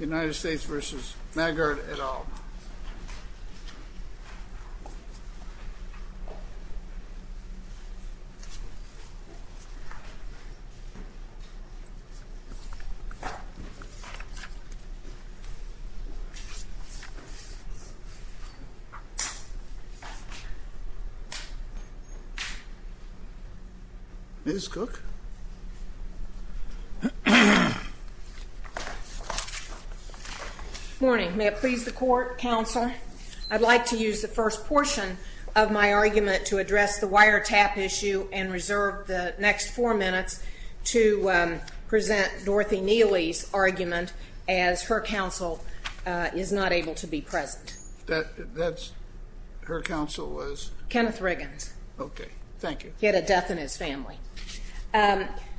United States v. Maggard et al. I'd like to use the first portion of my argument to address the wiretap issue and reserve the next four minutes to present Dorothy Neely's argument as her counsel is not able to be present. That's her counsel was? Kenneth Riggins. Okay, thank you. He had a death in his family.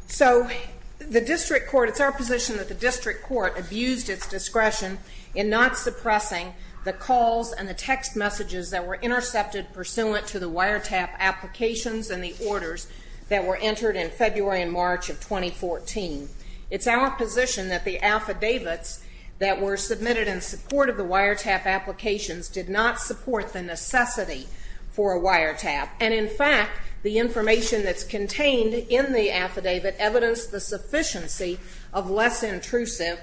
So the district court, it's our position that the district court abused its discretion in not suppressing the calls and the text messages that were intercepted pursuant to the wiretap applications and the orders that were entered in February and March of 2014. It's our position that the affidavits that were submitted in support of the wiretap applications did not support the necessity for a wiretap. And in fact, the information that's contained in the affidavit evidenced the sufficiency of less intrusive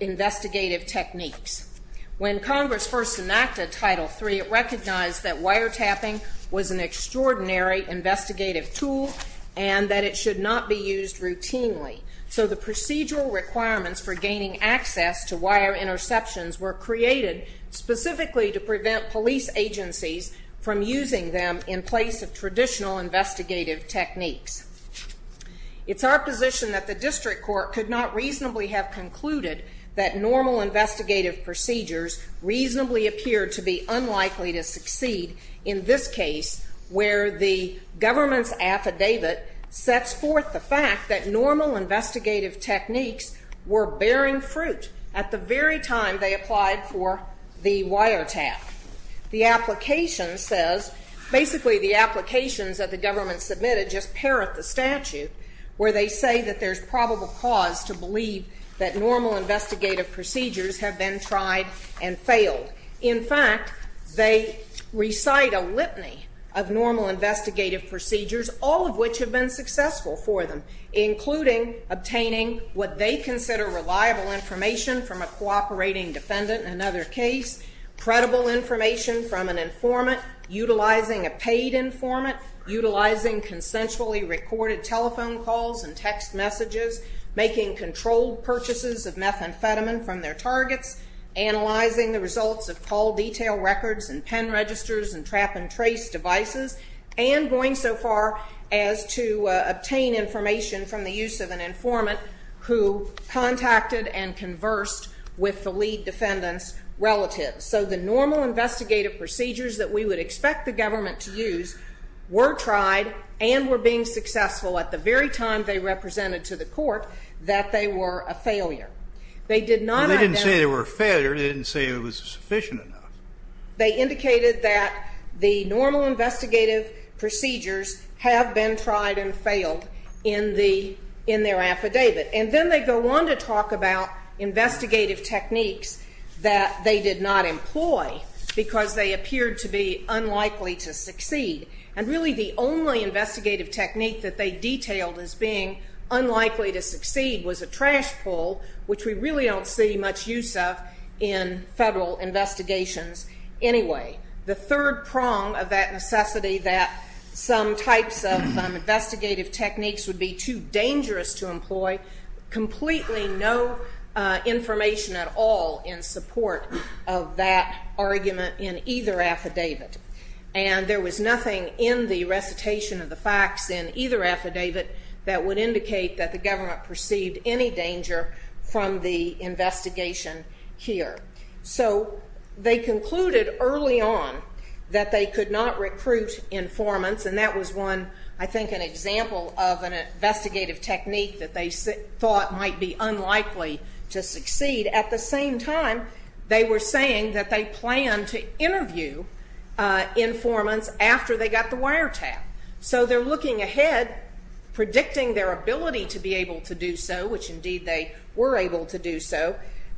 investigative techniques. When Congress first enacted Title III, it recognized that wiretapping was an extraordinary investigative tool and that it should not be used routinely. So the procedural requirements for gaining access to wire interceptions were created specifically to prevent police agencies from using them in place of traditional investigative techniques. It's our position that the district court could not reasonably have concluded that normal investigative procedures reasonably appeared to be unlikely to succeed in this case where the government's affidavit sets forth the fact that normal investigative techniques were bearing fruit at the very time they applied for the wiretap. The application says, basically the applications that the government submitted just parrot the statute where they say that there's probable cause to believe that normal investigative procedures have been tried and failed. In fact, they recite a litany of normal investigative procedures, all of which have been successful for them, including obtaining what they consider reliable information from a cooperating defendant in another case, credible information from an informant utilizing a paid informant, utilizing consensually recorded telephone calls and text messages, making controlled purchases of methamphetamine from their targets, analyzing the results of those purchases, and more. records and pen registers and trap and trace devices, and going so far as to obtain information from the use of an informant who contacted and conversed with the lead defendant's relatives. So the normal investigative procedures that we would expect the government to use were tried and were being successful at the very time they represented to the court that they were a failure. They did not identify. They didn't say they were a failure. They didn't say it was sufficient enough. They indicated that the normal investigative procedures have been tried and failed in their affidavit. And then they go on to talk about investigative techniques that they did not employ because they appeared to be unlikely to succeed. And really the only investigative technique that they detailed as being unlikely to succeed was a trash pull, which we really don't see much use of in federal investigations anyway. The third prong of that necessity that some types of investigative techniques would be too dangerous to employ, completely no information at all in support of that argument in either affidavit. And there was nothing in the recitation of the facts in either affidavit that would indicate that the government perceived any danger from the investigation here. So they concluded early on that they could not recruit informants, and that was one, I think, an example of an investigative technique that they thought might be unlikely to succeed. At the same time, they were saying that they planned to interview informants after they got the wiretap. So they're looking ahead, predicting their ability to be able to do so, which indeed they were able to do so,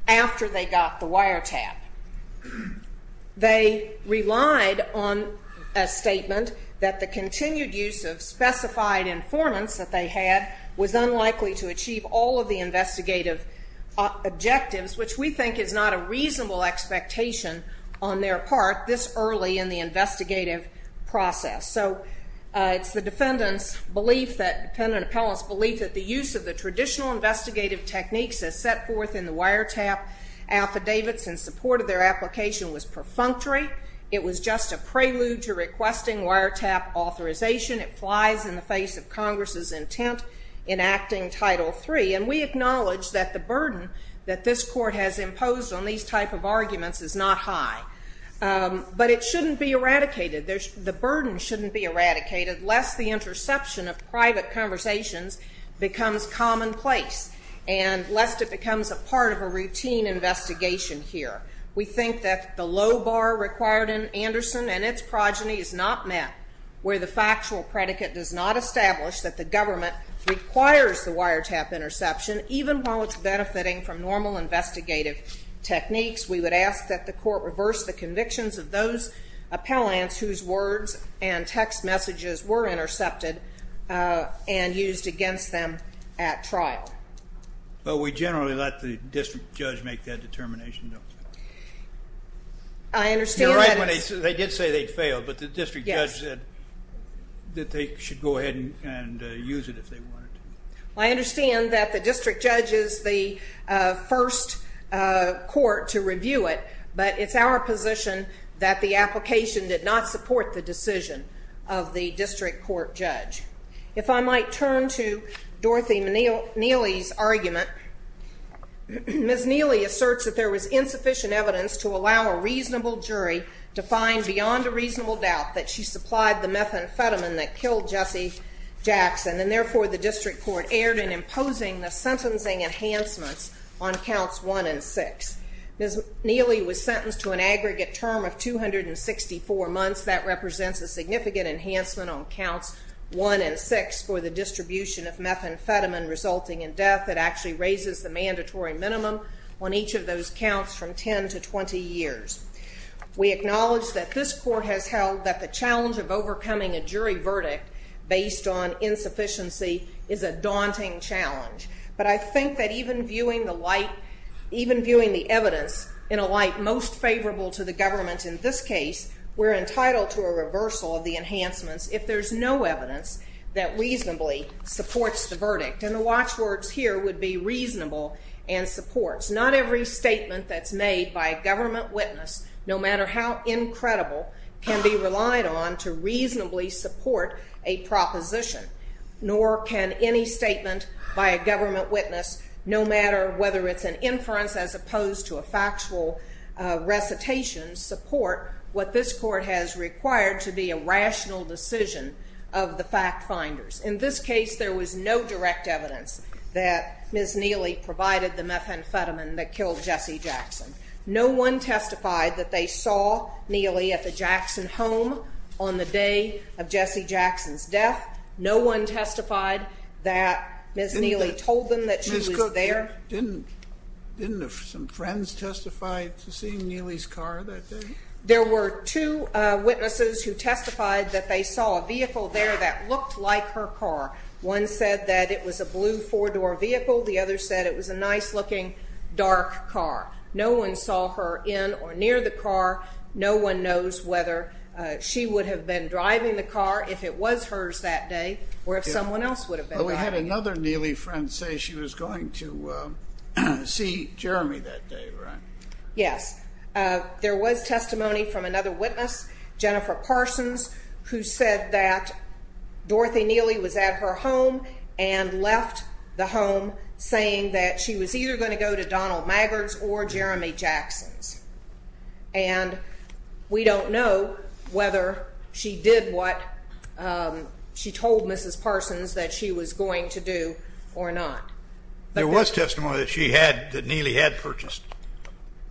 after they got the wiretap. They relied on a statement that the continued use of specified informants that they had was unlikely to achieve all of the investigative objectives, which we think is not a reasonable expectation on their part this early in the investigative process. So it's the defendant's belief, the defendant appellant's belief, that the use of the traditional investigative techniques as set forth in the wiretap affidavits in support of their application was perfunctory. It was just a prelude to requesting wiretap authorization. It flies in the face of Congress's intent in acting Title III. And we acknowledge that the burden that this Court has imposed on these type of arguments is not high. But it shouldn't be eradicated. The burden shouldn't be eradicated lest the interception of private conversations becomes commonplace and lest it becomes a part of a routine investigation here. We think that the low bar required in Anderson and its progeny is not met, where the factual predicate does not establish that the government requires the wiretap interception, even while it's benefiting from normal investigative techniques. We would ask that the Court reverse the convictions of those appellants whose words and text messages were intercepted and used against them at trial. But we generally let the district judge make that determination, don't we? I understand that it's... You're right when they did say they failed, but the district judge said that they should go ahead and use it if they wanted to. I understand that the district judge is the first court to review it, but it's our position that the application did not support the decision of the district court judge. If I might turn to Dorothy Neely's argument, Ms. Neely asserts that there was insufficient evidence to allow a reasonable jury to find beyond a reasonable doubt that she supplied the methamphetamine that killed Jesse Jackson, and therefore the district court erred in imposing the sentencing enhancements on counts 1 and 6. Ms. Neely was sentenced to an aggregate term of 264 months. That represents a significant enhancement on counts 1 and 6 for the distribution of methamphetamine resulting in death. It actually raises the mandatory minimum on each of those counts from 10 to 20 years. We acknowledge that this court has held that the challenge of overcoming a jury verdict based on insufficiency is a daunting challenge, but I think that even viewing the light, even viewing the evidence in a light most favorable to the government in this case, we're entitled to a reversal of the enhancements if there's no evidence that reasonably supports the verdict, and the watchwords here would be reasonable and supports. Not every statement that's made by a government witness, no matter how incredible, can be relied on to reasonably support a proposition, nor can any statement by a government witness, no matter whether it's an inference as opposed to a factual recitation, support what this court has required to be a rational decision of the fact finders. In this case, there was no direct evidence that Ms. Neely provided the methamphetamine that killed Jesse Jackson. No one testified that they saw Neely at the Jackson home on the day of Jesse Jackson's death. No one testified that Ms. Neely told them that she was there. Didn't some friends testify to seeing Neely's car that day? There were two witnesses who testified that they saw a vehicle there that looked like her car. One said that it was a blue four-door vehicle. The other said it was a nice-looking dark car. No one saw her in or near the car. No one knows whether she would have been driving the car if it was hers that day or if someone else would have been driving it. We had another Neely friend say she was going to see Jeremy that day, right? Yes. There was testimony from another witness, Jennifer Parsons, who said that Dorothy Neely was at her home and left the home, saying that she was either going to go to Donald Maggard's or Jeremy Jackson's. And we don't know whether she did what she told Mrs. Parsons that she was going to do or not. There was testimony that she had, that Neely had purchased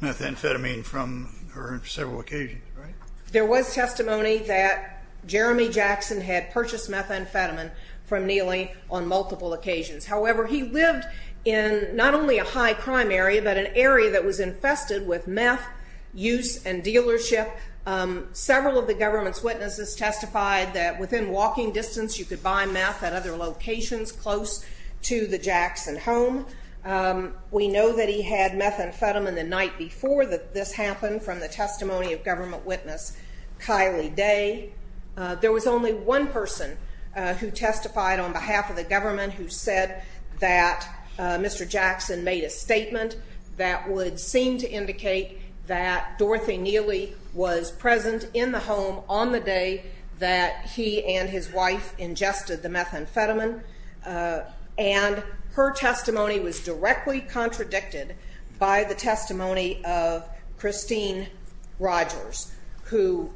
methamphetamine from her on several occasions, right? There was testimony that Jeremy Jackson had purchased methamphetamine from Neely on multiple occasions. However, he lived in not only a high-crime area but an area that was infested with meth use and dealership. Several of the government's witnesses testified that within walking distance you could buy meth at other locations close to the Jackson home. We know that he had methamphetamine the night before this happened from the testimony of government witness Kylie Day. There was only one person who testified on behalf of the government who said that Mr. Jackson made a statement that would seem to indicate that Dorothy Neely was present in the home on the day that he and his wife ingested the methamphetamine. And her testimony was directly contradicted by the testimony of Christine Rogers, who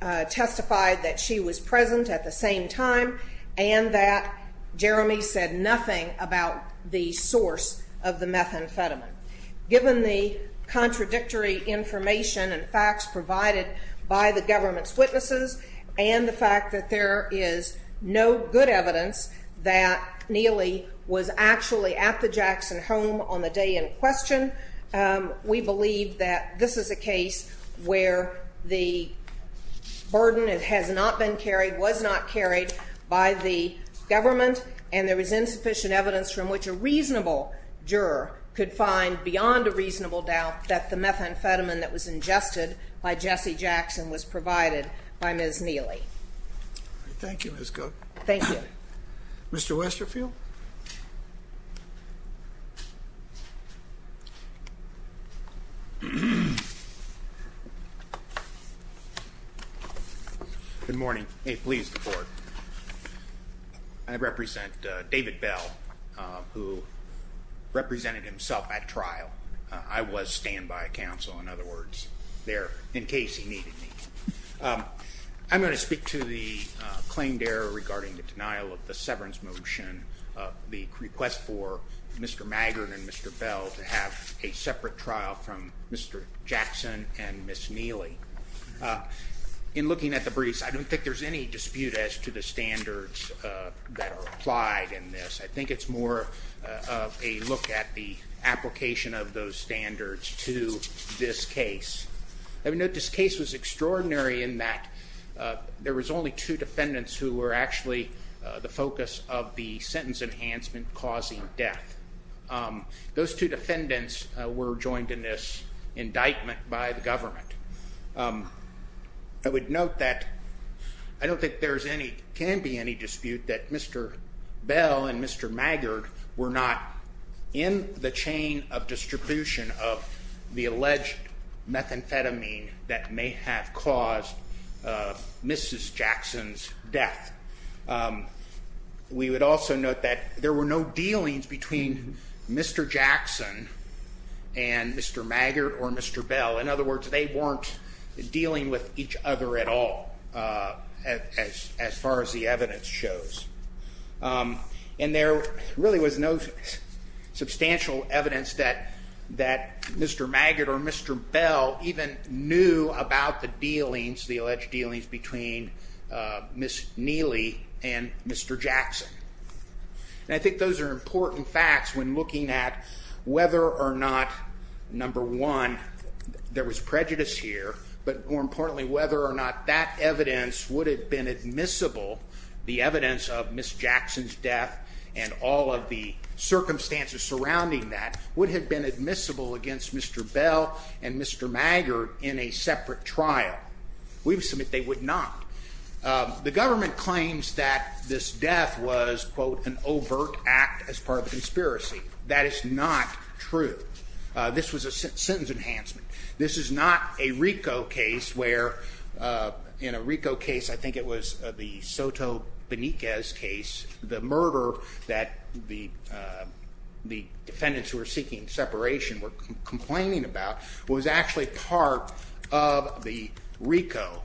testified that she was present at the same time and that Jeremy said nothing about the source of the methamphetamine. Given the contradictory information and facts provided by the government's witnesses and the fact that there is no good evidence that Neely was actually at the Jackson home on the day in question, we believe that this is a case where the burden has not been carried, was not carried by the government, and there is insufficient evidence from which a reasonable juror could find beyond a reasonable doubt that the methamphetamine that was ingested by Jesse Jackson was provided by Ms. Neely. Thank you, Ms. Cook. Thank you. Mr. Westerfield. Good morning. May it please the Court. I represent David Bell, who represented himself at trial. I was standby counsel, in other words, there in case he needed me. I'm going to speak to the claimed error regarding the denial of the severance motion, the request for Mr. Maggard and Mr. Bell to have a separate trial from Mr. Jackson and Ms. Neely. In looking at the briefs, I don't think there's any dispute as to the standards that are applied in this. I think it's more of a look at the application of those standards to this case. I would note this case was extraordinary in that there was only two defendants who were actually the focus of the sentence enhancement causing death. Those two defendants were joined in this indictment by the government. I would note that I don't think there can be any dispute that Mr. Bell and Mr. Maggard were not in the chain of distribution of the alleged methamphetamine that may have caused Mrs. Jackson's death. We would also note that there were no dealings between Mr. Jackson and Mr. Maggard or Mr. Bell. In other words, they weren't dealing with each other at all as far as the evidence shows. And there really was no substantial evidence that Mr. Maggard or Mr. Bell even knew about the dealings, the alleged dealings between Ms. Neely and Mr. Jackson. And I think those are important facts when looking at whether or not, number one, there was prejudice here, but more importantly whether or not that evidence would have been admissible, the evidence of Ms. Jackson's death and all of the circumstances surrounding that, would have been admissible against Mr. Bell and Mr. Maggard in a separate trial. We've submitted they would not. The government claims that this death was, quote, an overt act as part of a conspiracy. That is not true. This was a sentence enhancement. This is not a RICO case where, in a RICO case, I think it was the Soto Beniquez case, the murder that the defendants who were seeking separation were complaining about was actually part of the RICO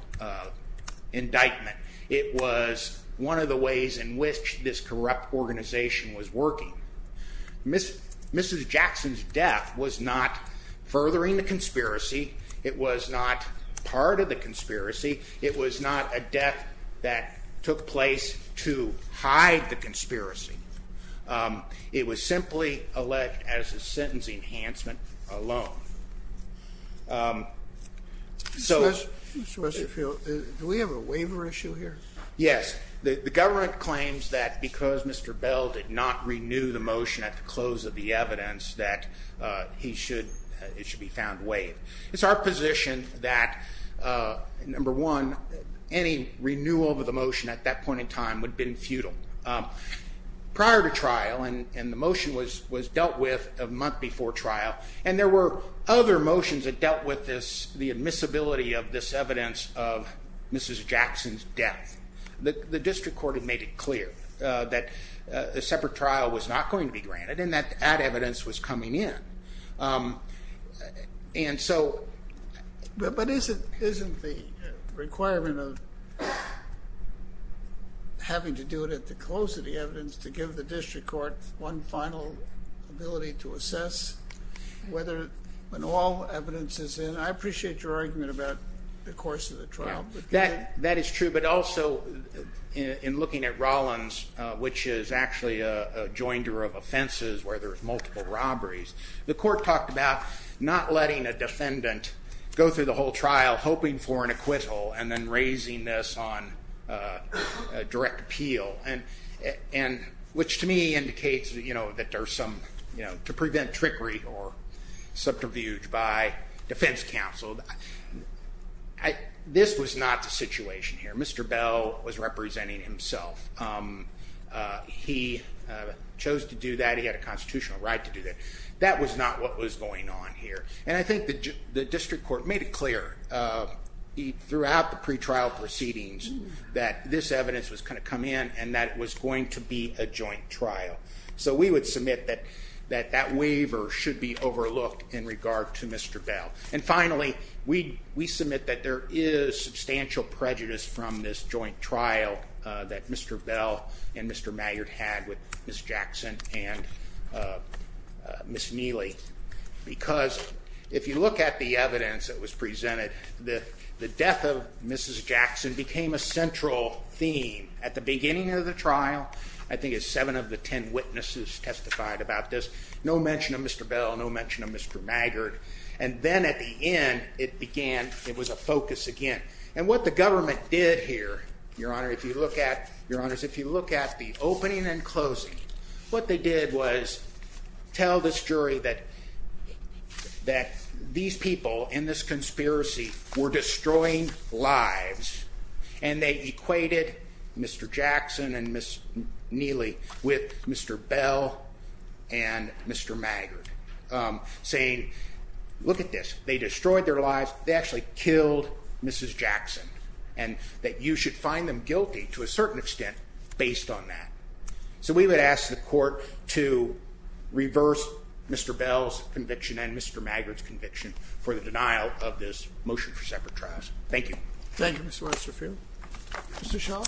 indictment. It was one of the ways in which this corrupt organization was working. Mrs. Jackson's death was not furthering the conspiracy. It was not part of the conspiracy. It was not a death that took place to hide the conspiracy. It was simply alleged as a sentence enhancement alone. Mr. Westerfield, do we have a waiver issue here? Yes. The government claims that because Mr. Bell did not renew the motion at the close of the evidence that it should be found waived. It's our position that, number one, any renewal of the motion at that point in time would have been futile. Prior to trial, and the motion was dealt with a month before trial, and there were other motions that dealt with this, the admissibility of this evidence of Mrs. Jackson's death. The district court had made it clear that a separate trial was not going to be granted and that that evidence was coming in. But isn't the requirement of having to do it at the close of the evidence to give the district court one final ability to assess when all evidence is in? I appreciate your argument about the course of the trial. That is true, but also in looking at Rollins, which is actually a joinder of offenses where there are multiple robberies, the court talked about not letting a defendant go through the whole trial hoping for an acquittal and then raising this on direct appeal, which to me indicates that there's some, you know, to prevent trickery or subterfuge by defense counsel. This was not the situation here. Mr. Bell was representing himself. He chose to do that. He had a constitutional right to do that. That was not what was going on here. And I think the district court made it clear throughout the pretrial proceedings that this evidence was going to come in and that it was going to be a joint trial. So we would submit that that waiver should be overlooked in regard to Mr. Bell. And finally, we submit that there is substantial prejudice from this joint trial that Mr. Bell and Mr. Maggard had with Ms. Jackson and Ms. Neely, because if you look at the evidence that was presented, the death of Mrs. Jackson became a central theme at the beginning of the trial. I think it's seven of the ten witnesses testified about this. No mention of Mr. Bell, no mention of Mr. Maggard. And then at the end, it began, it was a focus again. And what the government did here, Your Honor, if you look at the opening and closing, what they did was tell this jury that these people in this conspiracy were destroying lives, and they equated Mr. Jackson and Ms. Neely with Mr. Bell and Mr. Maggard, saying, look at this, they destroyed their lives, they actually killed Mrs. Jackson, and that you should find them guilty to a certain extent based on that. So we would ask the court to reverse Mr. Bell's conviction and Mr. Maggard's conviction for the denial of this motion for separate trials. Thank you. Thank you, Mr. Westerfield. Mr. Schall.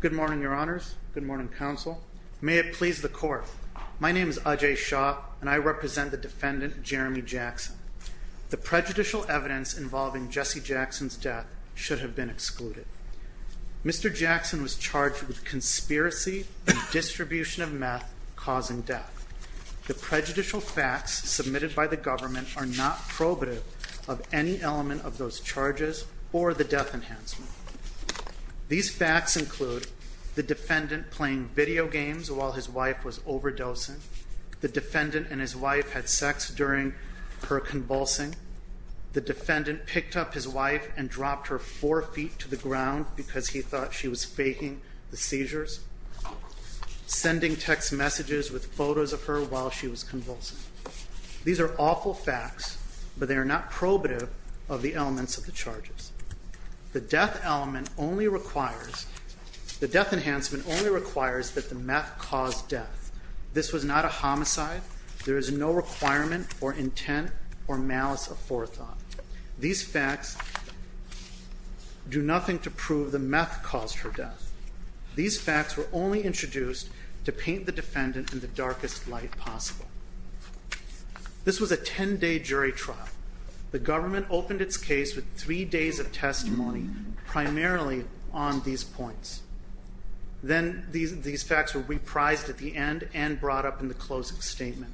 Good morning, Your Honors. Good morning, counsel. May it please the court. My name is Ajay Schall, and I represent the defendant, Jeremy Jackson. The prejudicial evidence involving Jesse Jackson's death should have been excluded. Mr. Jackson was charged with conspiracy and distribution of meth causing death. The prejudicial facts submitted by the government are not probative of any element of those charges or the death enhancement. These facts include the defendant playing video games while his wife was overdosing, the defendant and his wife had sex during her convulsing, the defendant picked up his wife and dropped her four feet to the ground because he thought she was faking the seizures, sending text messages with photos of her while she was convulsing. These are awful facts, but they are not probative of the elements of the charges. The death element only requires the death enhancement only requires that the meth cause death. This was not a homicide. There is no requirement or intent or malice aforethought. These facts were only introduced to paint the defendant in the darkest light possible. This was a ten-day jury trial. The government opened its case with three days of testimony primarily on these points. Then these facts were reprised at the end and brought up in the closing statement.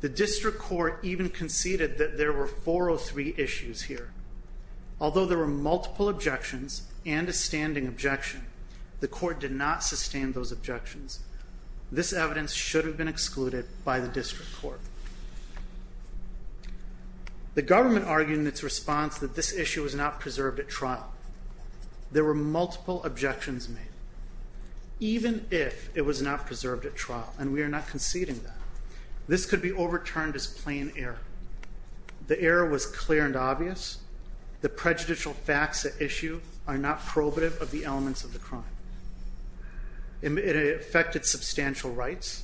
The district court even conceded that there were 403 issues here. Although there were multiple objections and a standing objection, the court did not sustain those objections. This evidence should have been excluded by the district court. The government argued in its response that this issue was not preserved at trial. There were multiple objections made. Even if it was not preserved at trial, and we are not conceding that, this could be overturned as plain error. The error was clear and obvious. The prejudicial facts at issue are not probative of the elements of the crime. It affected substantial rights.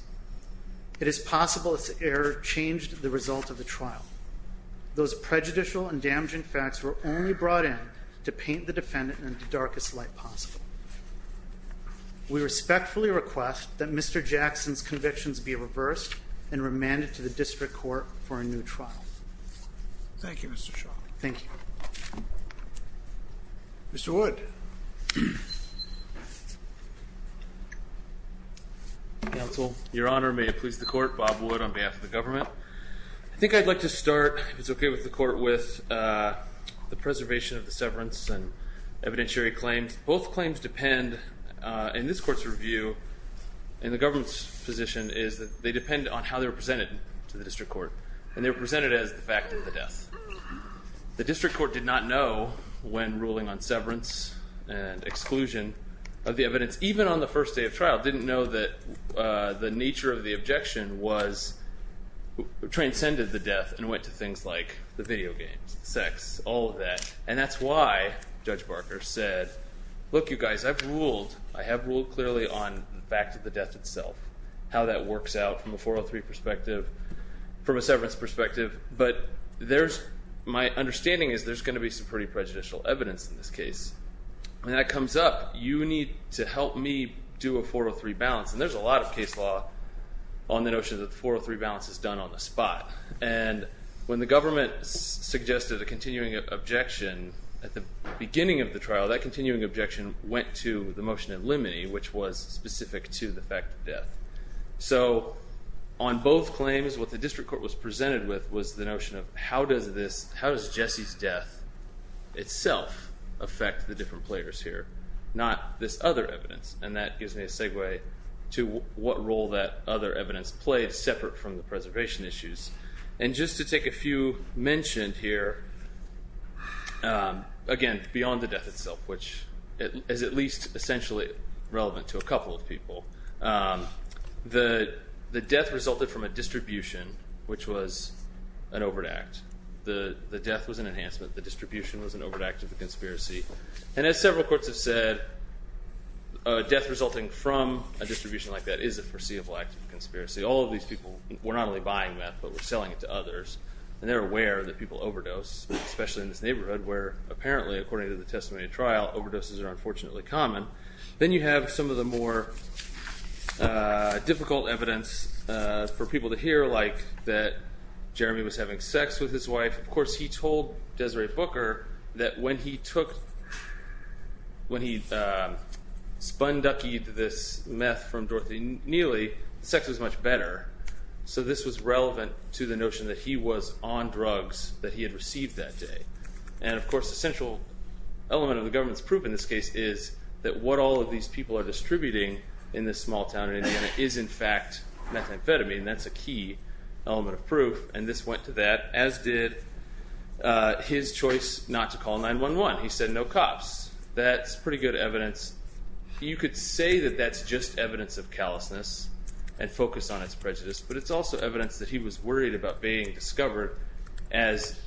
It is possible this error changed the result of the trial. Those prejudicial and damaging facts were only brought in to paint the defendant in the darkest light possible. We respectfully request that Mr. Jackson's convictions be reversed and remanded to the district court for a new trial. Thank you, Mr. Shaw. Thank you. Mr. Wood. Counsel, Your Honor, may it please the court, Bob Wood on behalf of the government. I think I'd like to start, if it's okay with the court, with the preservation of the severance and evidentiary claims. Both claims depend, in this court's review, in the government's position, is that they depend on how they were presented to the district court, and they were presented as the fact of the death. The district court did not know, when ruling on severance and exclusion of the evidence, even on the first day of trial, didn't know that the nature of the objection transcended the death and went to things like the video games, sex, all of that. And that's why Judge Barker said, look, you guys, I've ruled. I have ruled clearly on the fact of the death itself, how that works out from a 403 perspective, from a severance perspective, but my understanding is there's going to be some pretty prejudicial evidence in this case. When that comes up, you need to help me do a 403 balance. And there's a lot of case law on the notion that the 403 balance is done on the spot. And when the government suggested a continuing objection at the beginning of the trial, that continuing objection went to the motion in limine, which was specific to the fact of death. So on both claims, what the district court was presented with was the notion of, how does Jesse's death itself affect the different players here, not this other evidence? And that gives me a segue to what role that other evidence played separate from the preservation issues. And just to take a few mentioned here, again, beyond the death itself, which is at least essentially relevant to a couple of people, the death resulted from a distribution, which was an overt act. The death was an enhancement. The distribution was an overt act of the conspiracy. And as several courts have said, a death resulting from a distribution like that is a foreseeable act of conspiracy. All of these people were not only buying meth, but were selling it to others. And they're aware that people overdose, especially in this neighborhood, where apparently, according to the testimony of trial, overdoses are unfortunately common. Then you have some of the more difficult evidence for people to hear, like that Jeremy was having sex with his wife. Of course, he told Desiree Booker that when he spun-duckied this meth from Dorothy Neely, sex was much better. So this was relevant to the notion that he was on drugs that he had received that day. And of course, the central element of the government's proof in this case is that what all of these people are distributing in this small town in Indiana is in fact methamphetamine. And that's a key element of proof. And this went to that, as did his choice not to call 911. He said, no cops. That's pretty good evidence. You could say that that's just evidence of callousness and focus on its prejudice. But it's also evidence that he was worried about being discovered, as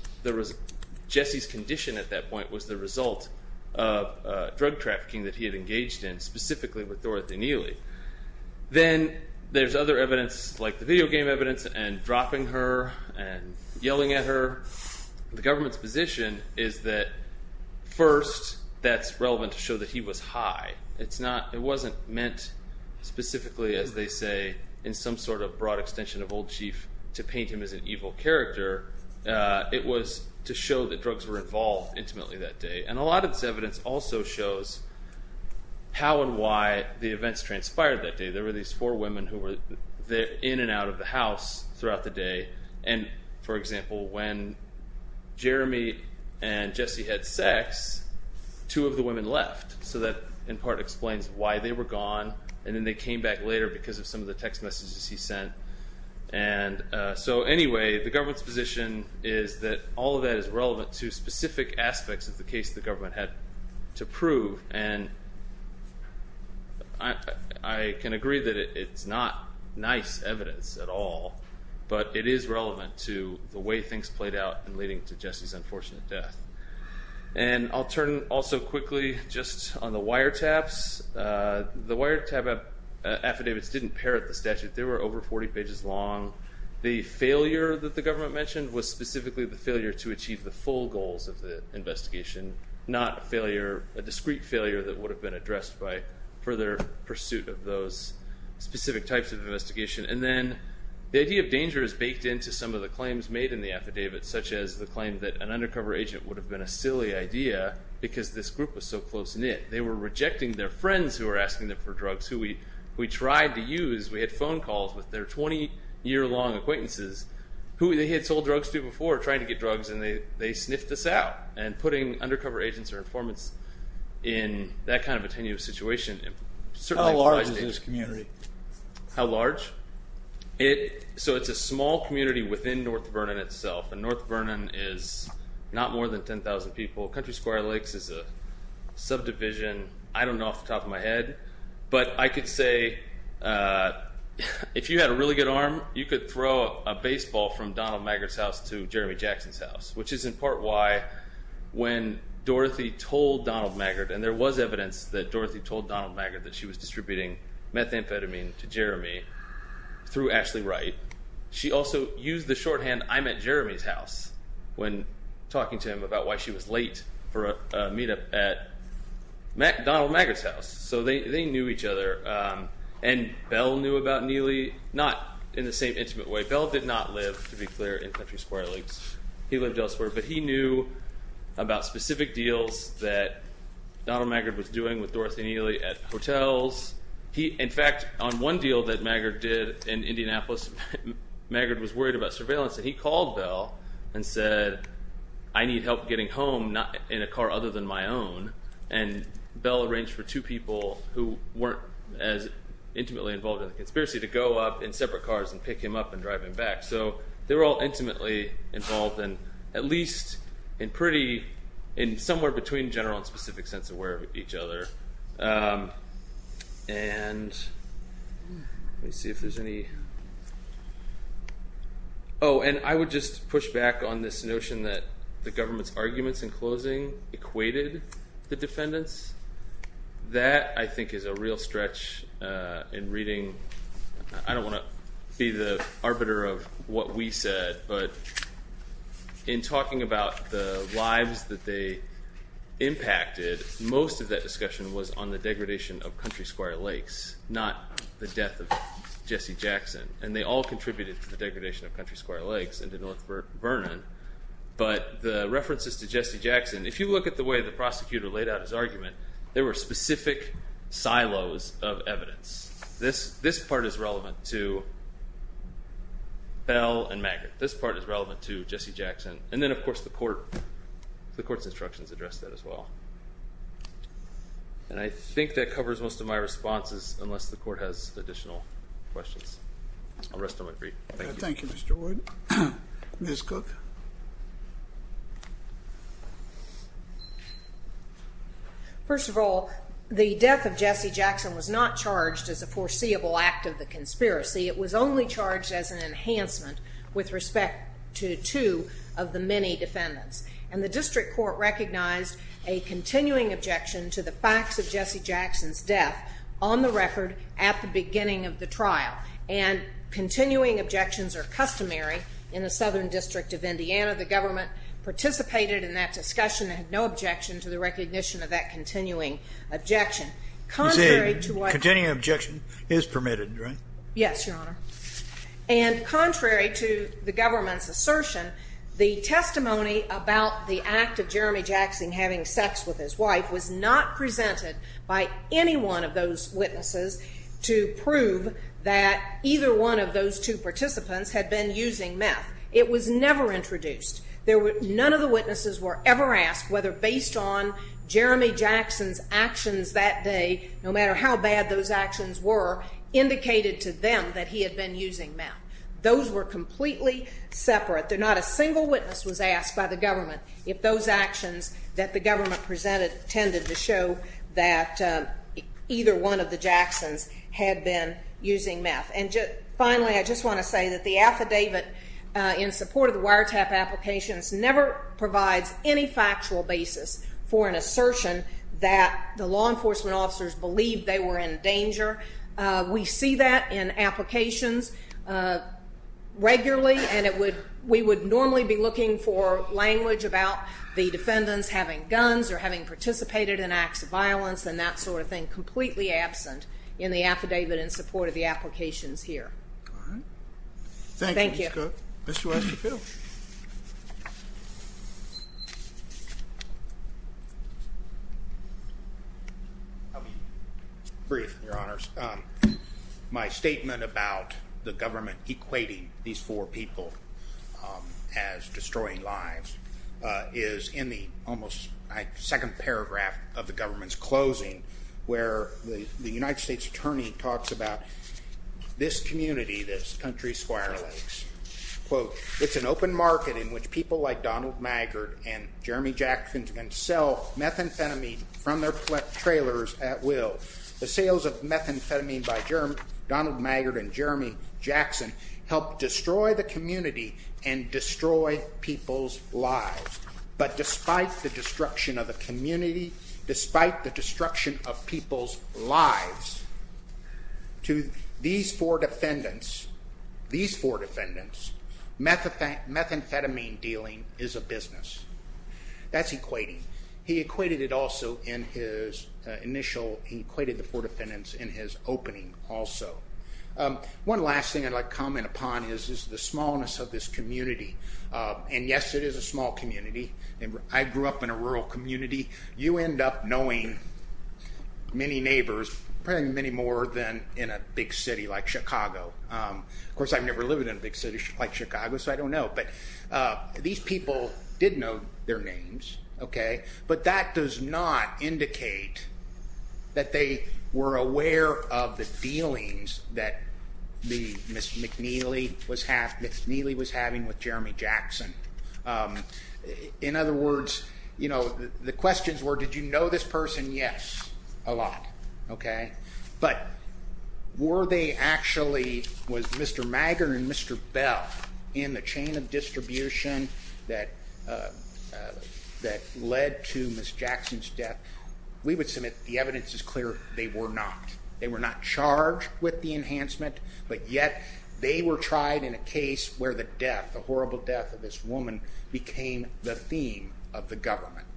Jesse's condition at that point was the result of drug trafficking that he had engaged in, specifically with Dorothy Neely. Then there's other evidence, like the video game evidence and dropping her and yelling at her. The government's position is that, first, that's relevant to show that he was high. It wasn't meant specifically, as they say, in some sort of broad extension of Old Chief to paint him as an evil character. It was to show that drugs were involved intimately that day. And a lot of this evidence also shows how and why the events transpired that day. There were these four women who were in and out of the house throughout the day. And, for example, when Jeremy and Jesse had sex, two of the women left. So that, in part, explains why they were gone. And then they came back later because of some of the text messages he sent. And so, anyway, the government's position is that all of that is relevant to specific aspects of the case the government had to prove. And I can agree that it's not nice evidence at all. But it is relevant to the way things played out in leading to Jesse's unfortunate death. And I'll turn also quickly just on the wiretaps. The wiretap affidavits didn't parrot the statute. They were over 40 pages long. The failure that the government mentioned was specifically the failure to achieve the full goals of the investigation, not a discrete failure that would have been addressed by further pursuit of those specific types of investigation. And then the idea of danger is baked into some of the claims made in the affidavit, such as the claim that an undercover agent would have been a silly idea because this group was so close-knit. They were rejecting their friends who were asking them for drugs, who we tried to use. We had phone calls with their 20-year-long acquaintances who they had sold drugs to before trying to get drugs, and they sniffed us out. And putting undercover agents or informants in that kind of a tenuous situation certainly implies danger. How large is this community? How large? So it's a small community within North Vernon itself, and North Vernon is not more than 10,000 people. Country Square Lakes is a subdivision. I don't know off the top of my head. But I could say if you had a really good arm, you could throw a baseball from Donald Maggard's house to Jeremy Jackson's house, which is in part why when Dorothy told Donald Maggard, and there was evidence that Dorothy told Donald Maggard that she was distributing methamphetamine to Jeremy through Ashley Wright, she also used the shorthand, I'm at Jeremy's house, when talking to him about why she was late for a meetup at Donald Maggard's house. So they knew each other. And Bell knew about Neely, not in the same intimate way. Bell did not live, to be clear, in Country Square Lakes. He lived elsewhere. But he knew about specific deals that Donald Maggard was doing with Dorothy and Neely at hotels. In fact, on one deal that Maggard did in Indianapolis, Maggard was worried about surveillance, and he called Bell and said, I need help getting home in a car other than my own. And Bell arranged for two people who weren't as intimately involved in the conspiracy to go up in separate cars and pick him up and drive him back. So they were all intimately involved, and at least in pretty, in somewhere between general and specific sense aware of each other. And let me see if there's any. Oh, and I would just push back on this notion that the government's arguments in closing equated the defendants. That, I think, is a real stretch in reading. I don't want to be the arbiter of what we said, but in talking about the lives that they impacted, most of that discussion was on the degradation of Country Square Lakes, not the death of Jesse Jackson. And they all contributed to the degradation of Country Square Lakes and to North Vernon. But the references to Jesse Jackson, if you look at the way the prosecutor laid out his argument, there were specific silos of evidence. This part is relevant to Bell and Maggard. This part is relevant to Jesse Jackson. And then, of course, the court's instructions address that as well. And I think that covers most of my responses, unless the court has additional questions. I'll rest on my feet. Thank you. Thank you, Mr. Wood. Ms. Cook. First of all, the death of Jesse Jackson was not charged as a foreseeable act of the conspiracy. It was only charged as an enhancement with respect to two of the many defendants. And the district court recognized a continuing objection to the facts of Jesse Jackson's death on the record at the beginning of the trial. And continuing objections are customary in the Southern District of Indiana. The government participated in that discussion and had no objection to the recognition of that continuing objection. You say continuing objection is permitted, right? Yes, Your Honor. And contrary to the government's assertion, the testimony about the act of Jeremy Jackson having sex with his wife was not presented by any one of those witnesses to prove that either one of those two participants had been using meth. It was never introduced. None of the witnesses were ever asked whether based on Jeremy Jackson's actions that day, no matter how bad those actions were, indicated to them that he had been using meth. Those were completely separate. Not a single witness was asked by the government if those actions that the government presented tended to show that either one of the Jacksons had been using meth. And finally, I just want to say that the affidavit in support of the wiretap applications never provides any factual basis for an assertion that the law enforcement officers believed they were in danger. We see that in applications regularly, and we would normally be looking for language about the defendants having guns or having participated in acts of violence and that sort of thing completely absent in the affidavit in support of the applications here. All right. Thank you. Thank you, Ms. Cook. Mr. West, your bill. I'll be brief, Your Honors. My statement about the government equating these four people as destroying lives is in the almost second paragraph of the government's closing, where the United States Attorney talks about this community, this country, Squire Lakes. Quote, it's an open market in which people like Donald Maggard and Jeremy Jackson can sell methamphetamine from their trailers at will. The sales of methamphetamine by Donald Maggard and Jeremy Jackson helped destroy the community and destroy people's lives. But despite the destruction of the community, despite the destruction of people's lives, to these four defendants, these four defendants, methamphetamine dealing is a business. That's equating. He equated it also in his initial, he equated the four defendants in his opening also. One last thing I'd like to comment upon is the smallness of this community. And yes, it is a small community. I grew up in a rural community. You end up knowing many neighbors, many more than in a big city like Chicago. Of course, I've never lived in a big city like Chicago, so I don't know. But these people did know their names. But that does not indicate that they were aware of the dealings that Ms. McNeely was having with Jeremy Jackson. In other words, the questions were, did you know this person? Yes, a lot. But were they actually, was Mr. Maggard and Mr. Bell in the chain of distribution that led to Ms. Jackson's death? We would submit the evidence is clear they were not. They were not charged with the enhancement, but yet they were tried in a case where the death, the horrible death of this woman, became the theme of the government.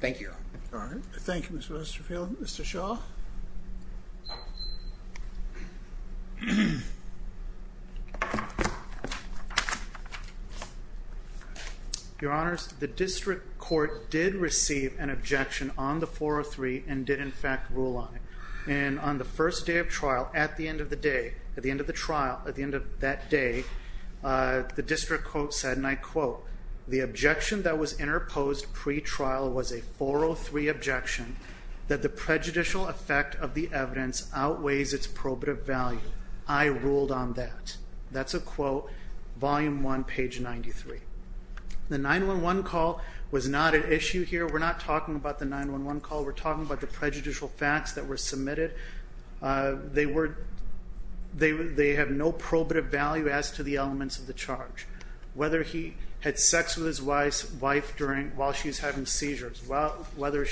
Thank you. All right. Thank you, Mr. Westerfield. Mr. Shaw. Your Honors, the district court did receive an objection on the 403 and did in fact rule on it. And on the first day of trial, at the end of the day, at the end of the trial, at the end of that day, the district court said, and I quote, the objection that was interposed pre-trial was a 403 objection that the prejudicial effect of the evidence outweighs its probative value. I ruled on that. That's a quote, volume one, page 93. The 911 call was not an issue here. We're not talking about the 911 call. They have no probative value as to the elements of the charge. Whether he had sex with his wife while she was having seizures, whether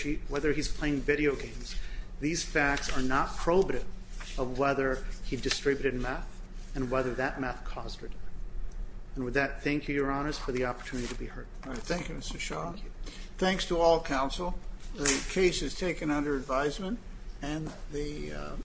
he's playing video games, these facts are not probative of whether he distributed meth and whether that meth caused her death. And with that, thank you, Your Honors, for the opportunity to be heard. All right. Thank you, Mr. Shaw. Thanks to all counsel. The case is taken under advisement.